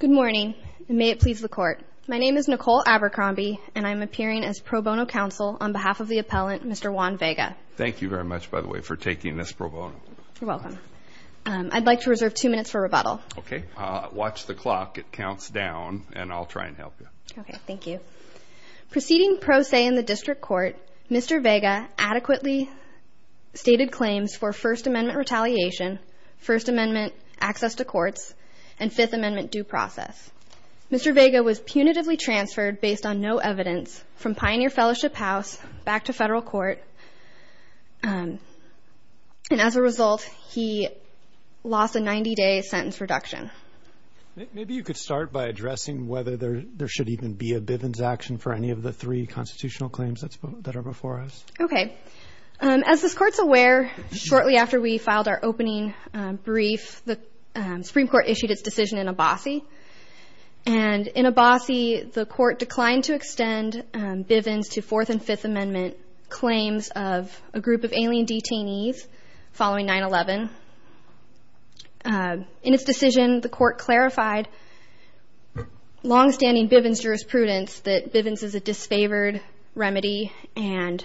Good morning, and may it please the court. My name is Nicole Abercrombie, and I'm appearing as pro bono counsel on behalf of the appellant, Mr. Juan Vega. Thank you very much, by the way, for taking this pro bono. You're welcome. I'd like to reserve two minutes for rebuttal. Okay, watch the clock. It counts down, and I'll try and help you. Okay, thank you. Proceeding pro se in the district court, Mr. Vega adequately stated claims for First Amendment retaliation, First Amendment due process. Mr. Vega was punitively transferred based on no evidence from Pioneer Fellowship House back to federal court, and as a result, he lost a 90-day sentence reduction. Maybe you could start by addressing whether there should even be a Bivens action for any of the three constitutional claims that are before us. Okay, as this court's aware, shortly after we and in a bossy, the court declined to extend Bivens to Fourth and Fifth Amendment claims of a group of alien detainees following 9-11. In its decision, the court clarified long-standing Bivens jurisprudence that Bivens is a disfavored remedy, and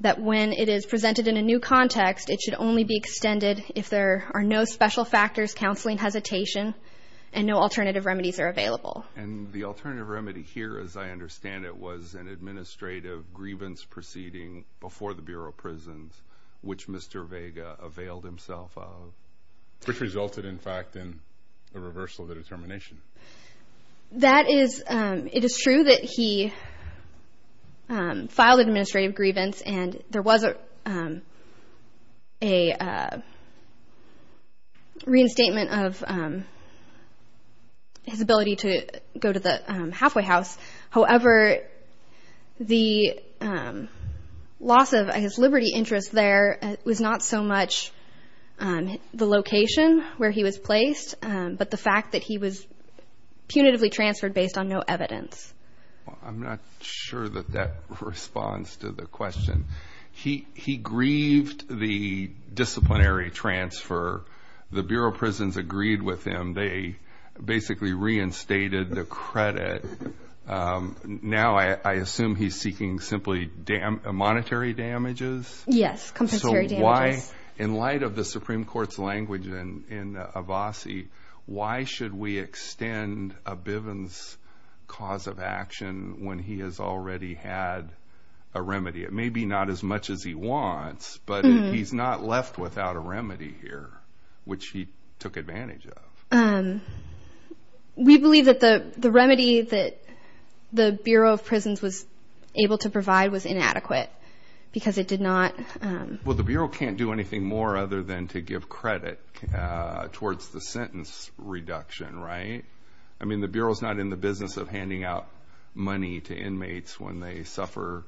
that when it is presented in a new context, it should only be extended if there are no special factors, counseling, hesitation, and no alternative remedies are available. And the alternative remedy here, as I understand it, was an administrative grievance proceeding before the Bureau of Prisons, which Mr. Vega availed himself of, which resulted, in fact, in the reversal of the determination. It is true that he filed administrative grievance, and there was a reinstatement of his ability to go to the halfway house. However, the loss of his liberty interest there was not so much the location where he was placed, but the fact that he was punitively transferred based on no evidence. I'm not sure that that responds to the question. He grieved the disciplinary transfer. The Bureau of Prisons agreed with him. They basically reinstated the credit. Now, I assume he's seeking simply monetary damages? Yes, compensatory damages. So, why, in light of the Supreme Court's language in Avasi, why should we extend a Bivens cause of action when he has already had a remedy? It may be not as much as he wants, but he's not left without a remedy here, which he took advantage of. We believe that the remedy that the Bureau of Prisons was able to provide was inadequate because it did not... Well, the Bureau can't do anything more other than to give credit towards the sentence reduction, right? I mean, the Bureau's not in the business of handing out money to inmates when they suffer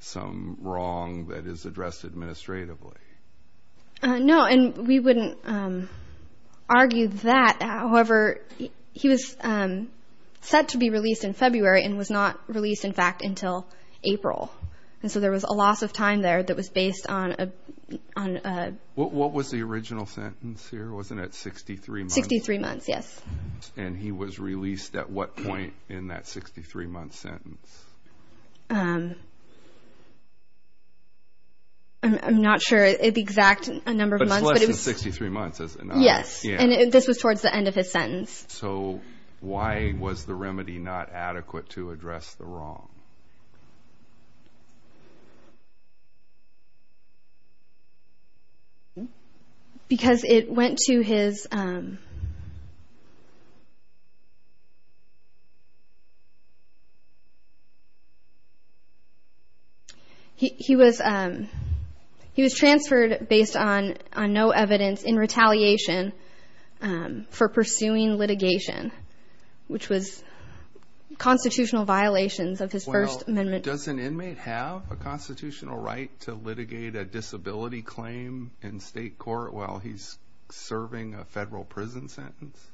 some wrong that is addressed administratively. No, and we wouldn't argue that. However, he was set to be released in February and was not released, in fact, until April. And so, there was a loss of time there that was based on... What was the original sentence here? Wasn't it 63 months? 63 months, yes. And he was released at what point in that 63-month sentence? I'm not sure. It's the exact number of months. But it's less than 63 months, is it not? Yes, and this was towards the end of his sentence. So, why was the remedy not adequate to address the wrong? Because it went to his... He was transferred based on no evidence in retaliation for pursuing litigation, which was constitutional violations of his First Amendment... Well, does an inmate have a constitutional right to litigate a serving a federal prison sentence?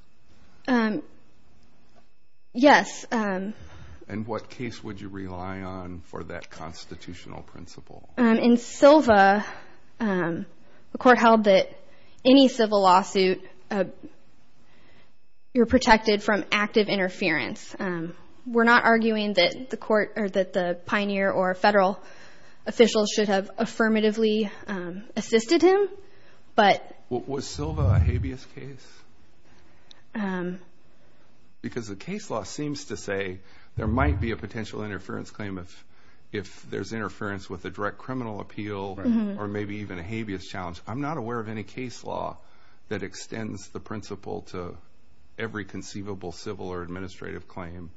Yes. And what case would you rely on for that constitutional principle? In Silva, the court held that any civil lawsuit, you're protected from active interference. We're not arguing that the court or that the pioneer or federal officials should have affirmatively assisted him, but... What was Silva a habeas case? Because the case law seems to say there might be a potential interference claim if there's interference with a direct criminal appeal or maybe even a habeas challenge. I'm not aware of any case law that extends the principle to every conceivable civil or administrative claim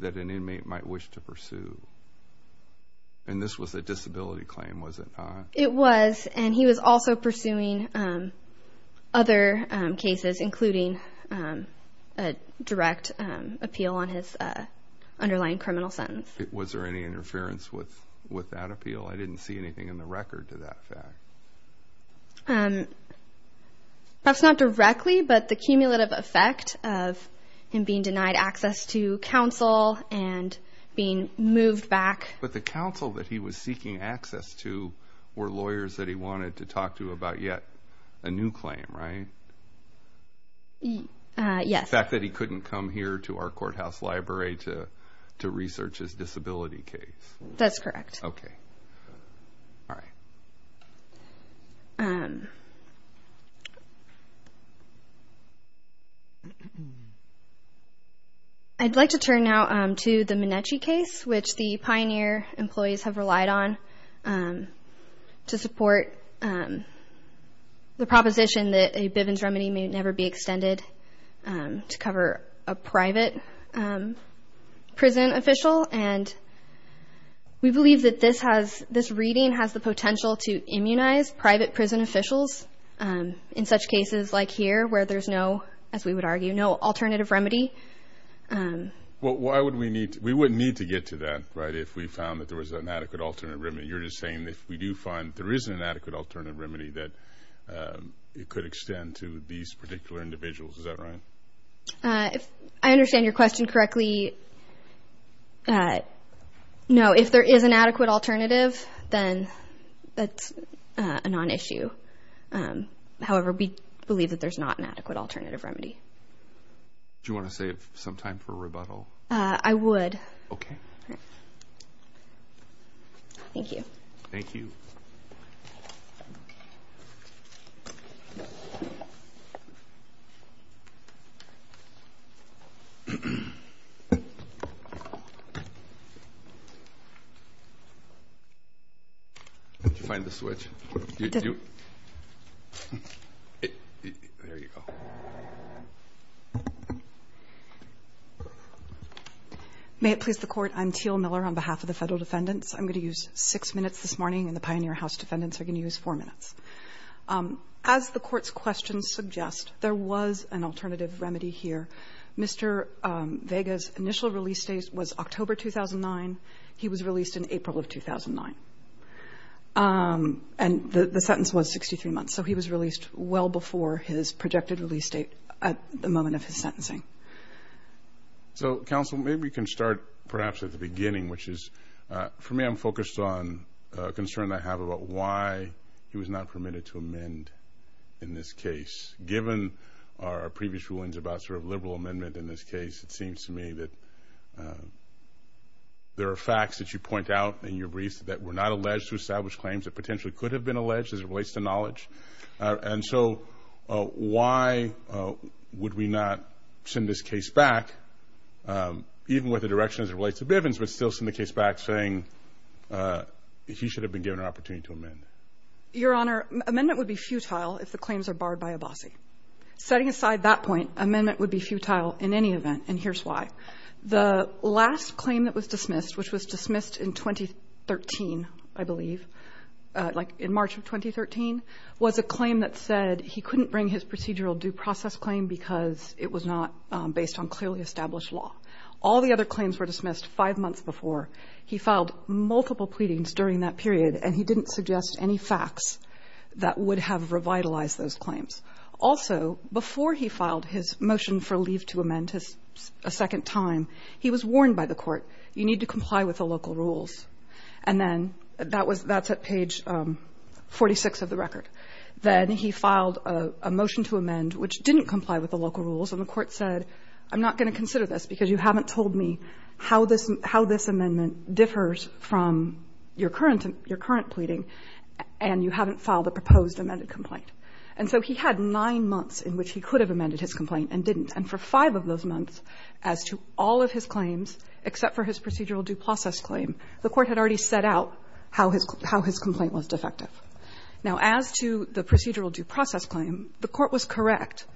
that an inmate might wish to pursue. And this was a disability claim, was it not? It was, and he was also pursuing other cases, including a direct appeal on his underlying criminal sentence. Was there any interference with that appeal? I didn't see anything in the record to that fact. That's not directly, but the cumulative effect of him being denied access to counsel and being moved back... But the counsel that he was seeking access to were lawyers that he wanted to talk to about yet a new claim, right? Yes. The fact that he couldn't come here to our courthouse library to research his disability case. That's correct. Okay. All right. I'd like to turn now to the Minechi case, which the Pioneer employees have relied on to support the proposition that a Bivens remedy may never be extended to cover a private prison official. And we believe that this reading has the potential to immunize private prison officials in such cases like here, where there's no, as we would argue, no alternative remedy. Well, why would we need to? We wouldn't need to get to that, right, if we found that there was an adequate alternate remedy. You're just saying if we do find there is an adequate alternative remedy, that it could extend to these particular individuals. Is that right? I understand your question correctly. No, if there is an adequate alternative, then that's a non-issue. However, we believe that there's not an adequate alternative remedy. Do you want to save some time for May it please the Court. I'm Teal Miller on behalf of the Federal Defendants. I'm going to use six minutes this morning, and the Pioneer House Defendants are going to use four minutes. As the Court's questions suggest, there was an alternative remedy here. Mr. Vega's initial release date was October 2009. He was released in April of 2009. And the sentence was 63 months, so he was released well before his projected release date at the moment of his sentencing. So, counsel, maybe we can start perhaps at the beginning, which is, for me, I'm focused on a concern I have about why he was not permitted to amend in this case. Given our previous rulings about sort of liberal amendment in this case, it seems to me that there are facts that you point out in your briefs that were not alleged to establish claims that potentially could have been alleged as it relates to knowledge. And so why would we not send this case back, even with the direction as it relates to Bivens, but still send the case back saying he should have been given an opportunity to amend? Your Honor, amendment would be futile if the claims are barred by Abbasi. Setting aside that point, amendment would be futile in any event, and here's why. The last claim that was dismissed, which was dismissed in 2013, I believe, like in March of 2013, was a claim that said he couldn't bring his procedural due process claim because it was not based on clearly established law. All the other claims were dismissed five months before. He filed multiple pleadings during that period, and he didn't suggest any facts that would have revitalized those claims. Also, before he filed his motion for leave to amend a second time, he was warned by the Court, you need to comply with the local rules. And then that was at page 46 of the record. Then he filed a motion to amend which didn't comply with the local rules, and the Court said, I'm not going to consider this because you haven't told me how this amendment differs from your current pleading, and you haven't filed a proposed amended complaint. And so he had nine months in which he could have amended his complaint and didn't. And for five of those months, as to all of his claims, except for his procedural due process claim, the Court had already set out how his complaint was defective. Now, as to the procedural due process claim, the Court was correct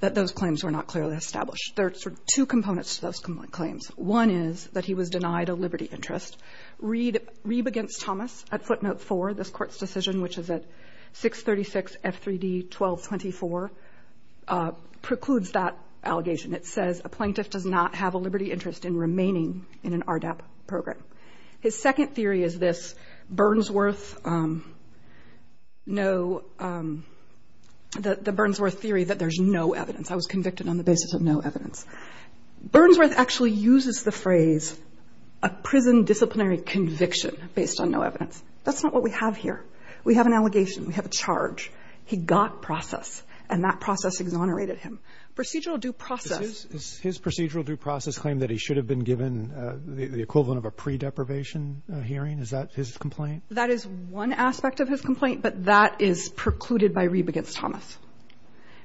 that those claims were not clearly established. There are sort of two components to those claims. One is that he was denied a liberty interest. Reeb against Thomas at footnote four, this Court's decision, which is at 636 F3D 1224, precludes that allegation. It says, a plaintiff does not have a liberty interest in remaining in an RDAP program. His second theory is this, Burnsworth, no, the Burnsworth theory that there's no evidence. I was convicted on the basis of no evidence. Burnsworth actually uses the phrase, a prison disciplinary conviction based on no evidence. That's not what we have here. We have an allegation. We have a charge. He got process. And that process exonerated him. Procedural due process. Roberts. Is his procedural due process claim that he should have been given the equivalent of a pre-deprivation hearing? Is that his complaint? That is one aspect of his complaint, but that is precluded by Reeb against Thomas.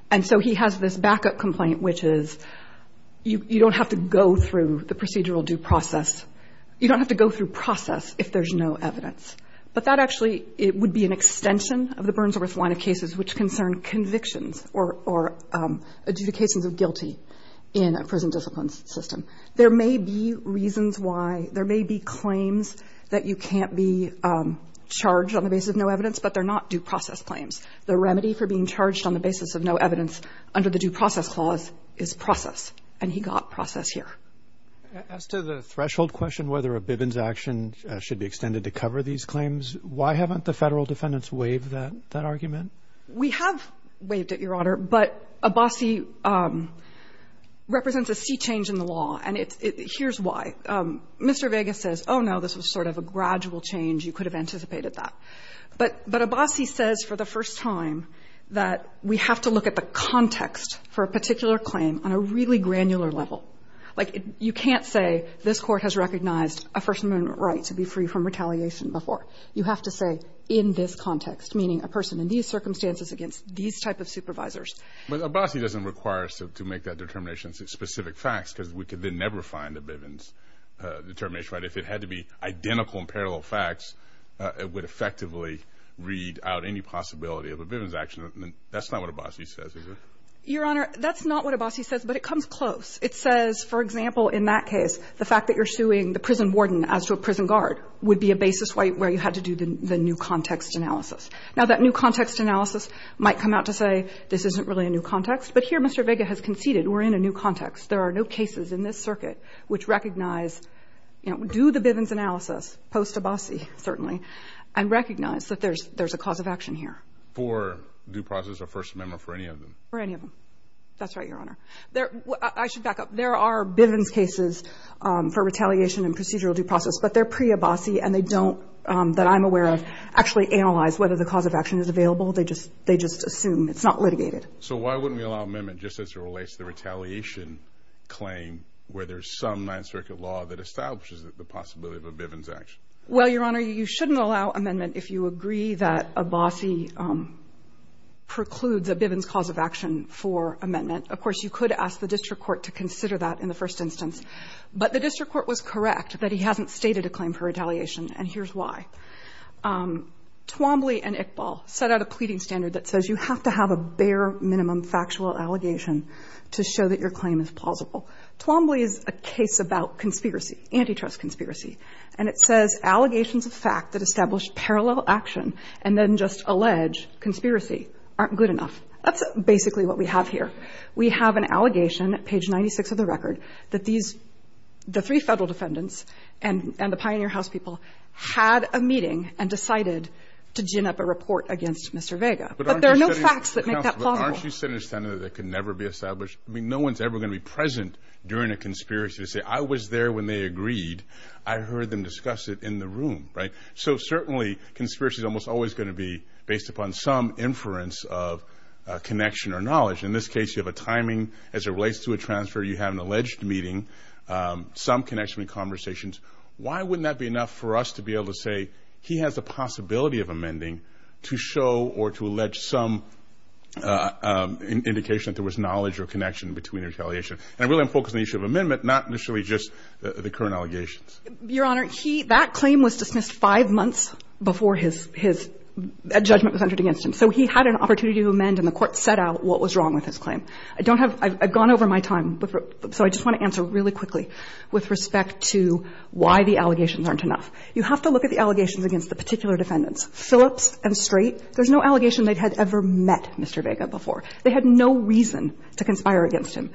And so he has this backup complaint, which is you don't have to go through the procedural due process. You don't have to go through process if there's no evidence. But that actually, it would be an extension of the Burnsworth line of cases, which concern convictions or adjudications of guilty in a prison discipline system. There may be reasons why, there may be claims that you can't be charged on the basis of no evidence, but they're not due process claims. The remedy for being charged on the basis of no evidence under the due process clause is process. And he got process here. As to the threshold question, whether a Bivens action should be extended to cover these claims, why haven't the Federal defendants waived that argument? We have waived it, Your Honor, but Abbasi represents a sea change in the law, and it's — here's why. Mr. Vegas says, oh, no, this was sort of a gradual change. You could have anticipated that. But Abbasi says for the first time that we have to look at the context for a particular claim on a really granular level. Like, you can't say this Court has recognized a First Amendment right to be free from retaliation before. You have to say in this context, meaning a person in these circumstances against these type of supervisors. But Abbasi doesn't require us to make that determination as specific facts, because we could then never find a Bivens determination, right? If it had to be identical and parallel facts, it would effectively read out any possibility of a Bivens action. That's not what Abbasi says, is it? Your Honor, that's not what Abbasi says, but it comes close. It says, for example, in that case, the fact that you're suing the prison warden as to a prison guard would be a basis where you had to do the new context analysis. Now, that new context analysis might come out to say this isn't really a new context, but here Mr. Vega has conceded we're in a new context. There are no cases in this circuit which recognize, you know, do the Bivens analysis post-Abbasi, certainly, and recognize that there's a cause of action here. For due process or First Amendment for any of them? For any of them. That's right, Your Honor. I should back up. There are Bivens cases for retaliation and procedural due process, but they're pre-Abbasi, and they don't, that I'm aware of, actually analyze whether the cause of action is available. They just assume. It's not litigated. So why wouldn't we allow amendment just as it relates to the retaliation claim where there's some Ninth Circuit law that establishes the possibility of a Bivens action? Well, Your Honor, you shouldn't allow amendment if you agree that Abbasi precludes a Bivens cause of action for amendment. Of course, you could ask the district court to consider that in the first instance, but the district court was correct that he hasn't stated a claim for retaliation, and here's why. Twombly and Iqbal set out a pleading standard that says you have to have a bare minimum factual allegation to show that your claim is plausible. Twombly is a case about conspiracy, antitrust conspiracy, and it says allegations of fact that establish parallel action and then just allege conspiracy aren't good enough. That's basically what we have here. We have an allegation, page 96 of the record, that these, the three Federal defendants and the Pioneer House people had a meeting and decided to gin up a report against Mr. Vega. But there are no facts that make that plausible. But aren't you saying that that could never be established? I mean, no one's ever going to be present during a conspiracy to say, I was there when they agreed. I heard them discuss it in the room, right? So certainly, conspiracy is almost always going to be based upon some inference of connection or knowledge. In this case, you have a timing as it relates to a transfer. You have an alleged meeting, some connection with conversations. Why wouldn't that be enough for us to be able to say he has a possibility of amending to show or to allege some indication that there was knowledge or connection between And I'm really focused on the issue of amendment, not necessarily just the current allegations. Your Honor, he — that claim was dismissed five months before his judgment was entered against him. So he had an opportunity to amend and the Court set out what was wrong with his claim. I don't have — I've gone over my time, but — so I just want to answer really quickly with respect to why the allegations aren't enough. You have to look at the allegations against the particular defendants. Phillips and Straight, there's no allegation they had ever met Mr. Vega before. They had no reason to conspire against him.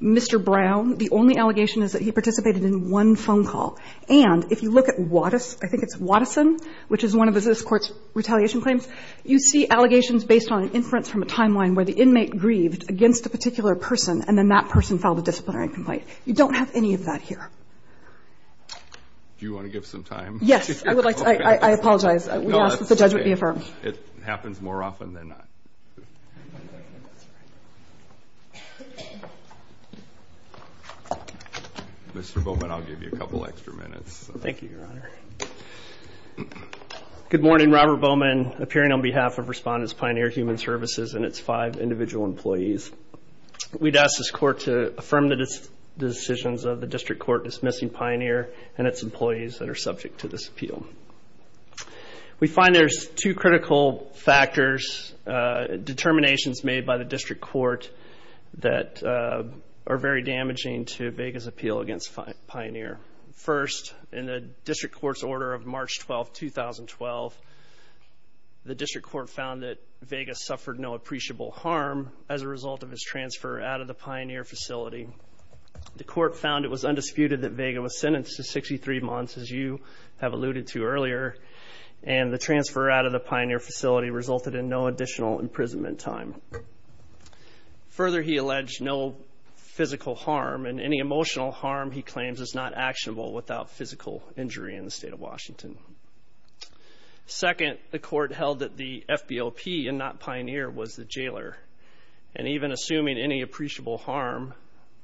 Mr. Brown, the only allegation is that he participated in one phone call. And if you look at Wattis — I think it's Wattison, which is one of the court's retaliation claims, you see allegations based on an inference from a timeline where the inmate grieved against a particular person and then that person filed a disciplinary complaint. You don't have any of that here. Do you want to give some time? Yes. I would like to — I apologize. We ask that the judge would be affirmed. It happens more often than not. Mr. Bowman, I'll give you a couple extra minutes. Thank you, Your Honor. Good morning. Robert Bowman, appearing on behalf of Respondents Pioneer Human Services and its five individual employees. We'd ask this court to affirm the decisions of the district court dismissing Pioneer and its employees that are subject to this appeal. We find there's two critical factors, determinations made by the district court that are very damaging to Vega's appeal against Pioneer. First, in the district court's order of March 12, 2012, the district court found that Vega suffered no appreciable harm as a result of his transfer out of the Pioneer facility. The court found it was undisputed that Vega was sentenced to 63 months, as you have alluded to earlier, and the transfer out of the Pioneer facility resulted in no additional imprisonment time. Further, he alleged no physical harm and any emotional harm he claims is not actionable without physical injury in the state of Washington. Second, the court held that the FBOP and not Pioneer was the jailer. And even assuming any appreciable harm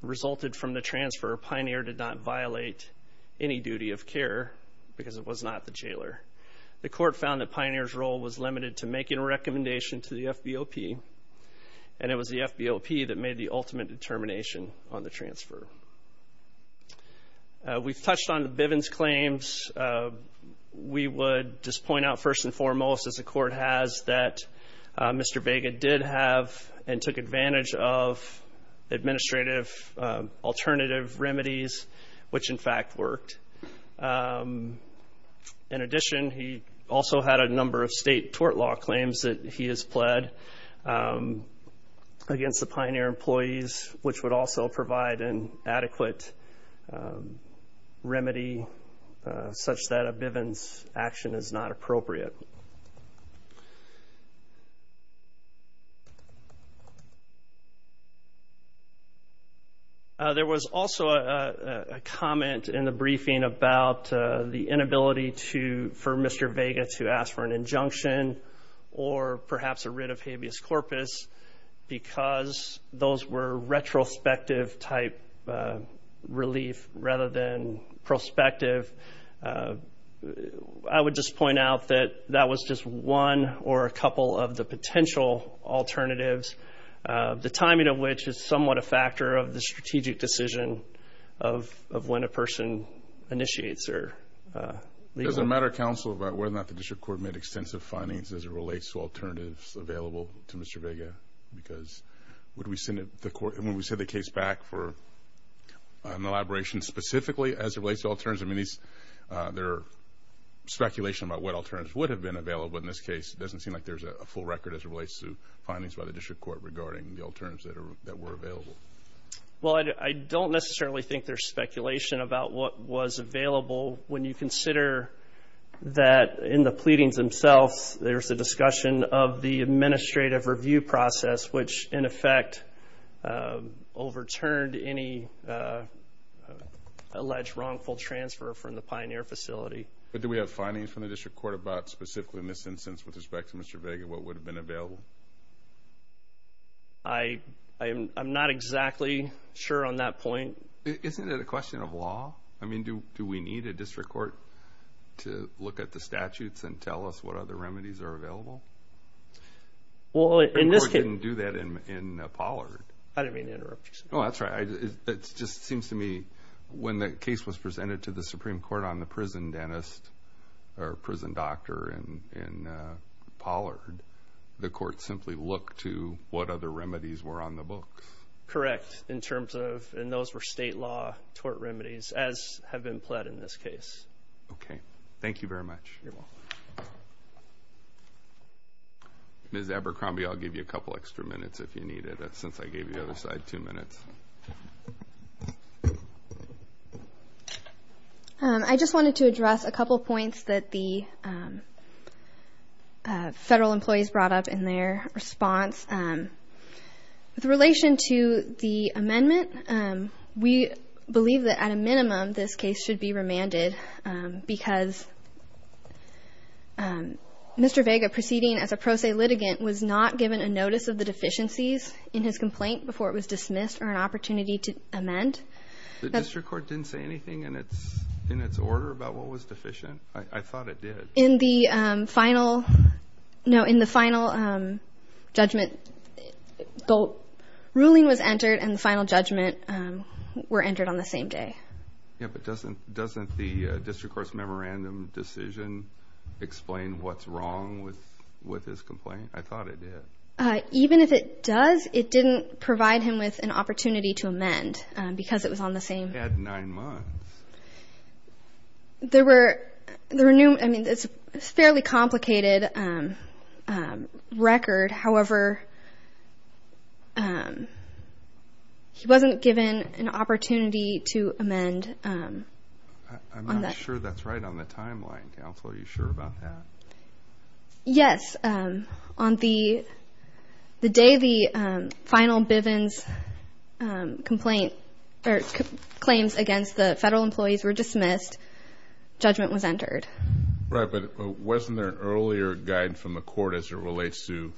resulted from the transfer, Pioneer did not the jailer. The court found that Pioneer's role was limited to making a recommendation to the FBOP, and it was the FBOP that made the ultimate determination on the transfer. We've touched on the Bivens claims. We would just point out first and foremost, as the court has, that Mr. Vega did have and In addition, he also had a number of state tort law claims that he has pled against the Pioneer employees, which would also provide an adequate remedy such that a Bivens action is not appropriate. There was also a comment in the briefing about the inability for Mr. Vega to ask for an injunction or perhaps a writ of habeas corpus because those were retrospective type relief rather than prospective. I would just point out that that was just one or a couple of the potential alternatives, the timing of which is somewhat a factor of the strategic decision of when a person initiates their legal... Does it matter, counsel, about whether or not the district court made extensive findings as it relates to alternatives available to Mr. Vega? Because when we send the case back for an elaboration specifically as it relates to alternatives, there are speculations about what alternatives would have been available in this case. It doesn't seem like there's a full record as it relates to findings by the district court regarding the alternatives that were available. I don't necessarily think there's speculation about what was available when you consider that in the pleadings themselves, there's a discussion of the administrative review process, which in effect overturned any alleged wrongful transfer from the Pioneer facility. But do we have findings from the district court about specifically in this instance with respect to Mr. Vega, what would have been available? I'm not exactly sure on that point. Isn't it a question of law? I mean, do we need a district court to look at the statutes and tell us what other remedies are available? The court didn't do that in Pollard. I didn't mean to interrupt you, sir. Oh, that's right. It just seems to me when the case was presented to the Supreme Court on the prison dentist or prison doctor in Pollard, the court simply looked to what other remedies were on the books. Correct, in terms of, and those were state law tort remedies as have been pled in this case. Okay. Thank you very much. You're welcome. Ms. Abercrombie, I'll give you a couple extra minutes if you need it, since I gave you the other side two minutes. I just wanted to address a couple points that the federal employees brought up in their response. With relation to the amendment, we believe that at a minimum this case should be remanded because Mr. Vega, proceeding as a pro se litigant, was not given a notice of the deficiencies in his complaint before it was dismissed or an opportunity to amend. The district court didn't say anything in its order about what was deficient? I thought it did. In the final judgment, the ruling was entered and the final judgment were entered on the same day. Yeah, but doesn't the district court's memorandum decision explain what's wrong with his complaint? I thought it did. Even if it does, it didn't provide him with an opportunity to amend because it was on the same- At nine months. There were new, I mean, it's a fairly complicated record, however, he wasn't given an opportunity to amend. I'm not sure that's right on the timeline, counsel. Are you sure about that? Yes. On the day the final Bivens complaint or claims against the federal employees were dismissed, judgment was entered. Right, but wasn't there an earlier guide from the court as it relates to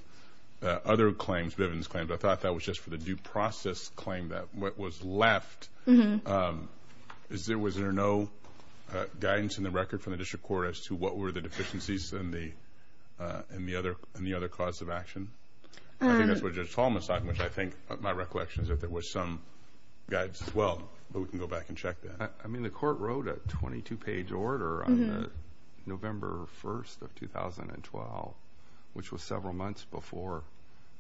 other claims, Bivens claims? I thought that was just for the due process claim that was left. Was there no guidance in the record from the district court as to what were the deficiencies in the other cause of action? I think that's what Judge Tolman's talking, which I think my recollection is that there was some guidance as well, but we can go back and check that. I mean, the court wrote a 22-page order on November 1st of 2012, which was several months before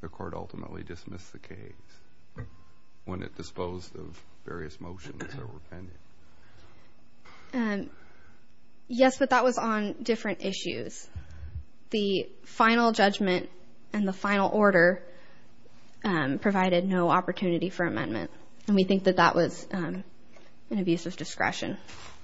the court ultimately dismissed the case when it disposed of various motions that were pending. Yes, but that was on different issues. The final judgment and the final order provided no opportunity for amendment, and we think that that was an abuse of discretion.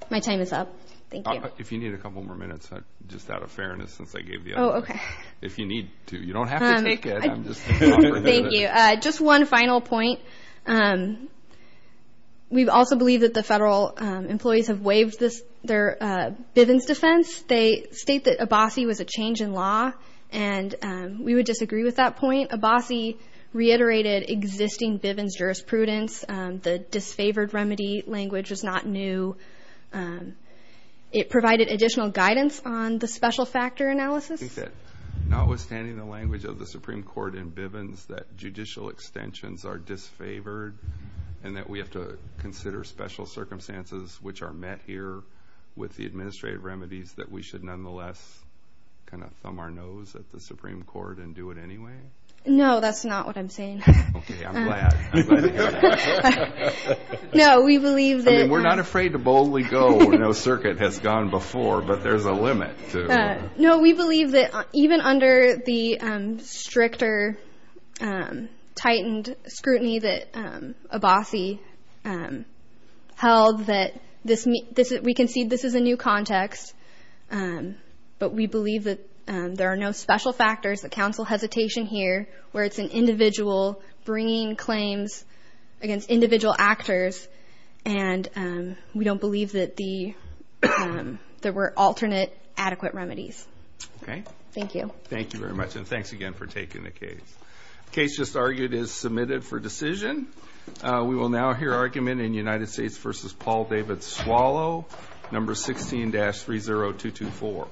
My time is up. Thank you. If you need a couple more minutes, just out of fairness, since I gave the other one. Oh, okay. If you need to. You don't have to take it. I'm just a talker. Thank you. Just one final point. We also believe that the federal employees have waived their Bivens defense. They state that Abbasi was a change in law, and we would disagree with that point. Abbasi reiterated existing Bivens jurisprudence. The disfavored remedy language was not new. It provided additional guidance on the special factor analysis. I think that, notwithstanding the language of the Supreme Court in Bivens, that judicial extensions are disfavored, and that we have to consider special circumstances, which are met here with the administrative remedies, that we should nonetheless kind of thumb our nose at the Supreme Court and do it anyway? No, that's not what I'm saying. Okay, I'm glad. No, we believe that. I mean, we're not afraid to boldly go. No circuit has gone before, but there's a limit. No, we believe that even under the stricter, tightened scrutiny that Abbasi held, that we can see this is a new context, but we believe that there are no special factors that counsel hesitation here, where it's an individual bringing claims against individual actors, and we don't believe that there were alternate adequate remedies. Okay. Thank you. Thank you very much, and thanks again for taking the case. The case just argued is submitted for decision. We will now hear argument in United States v. Paul David Swallow, No. 16-30224.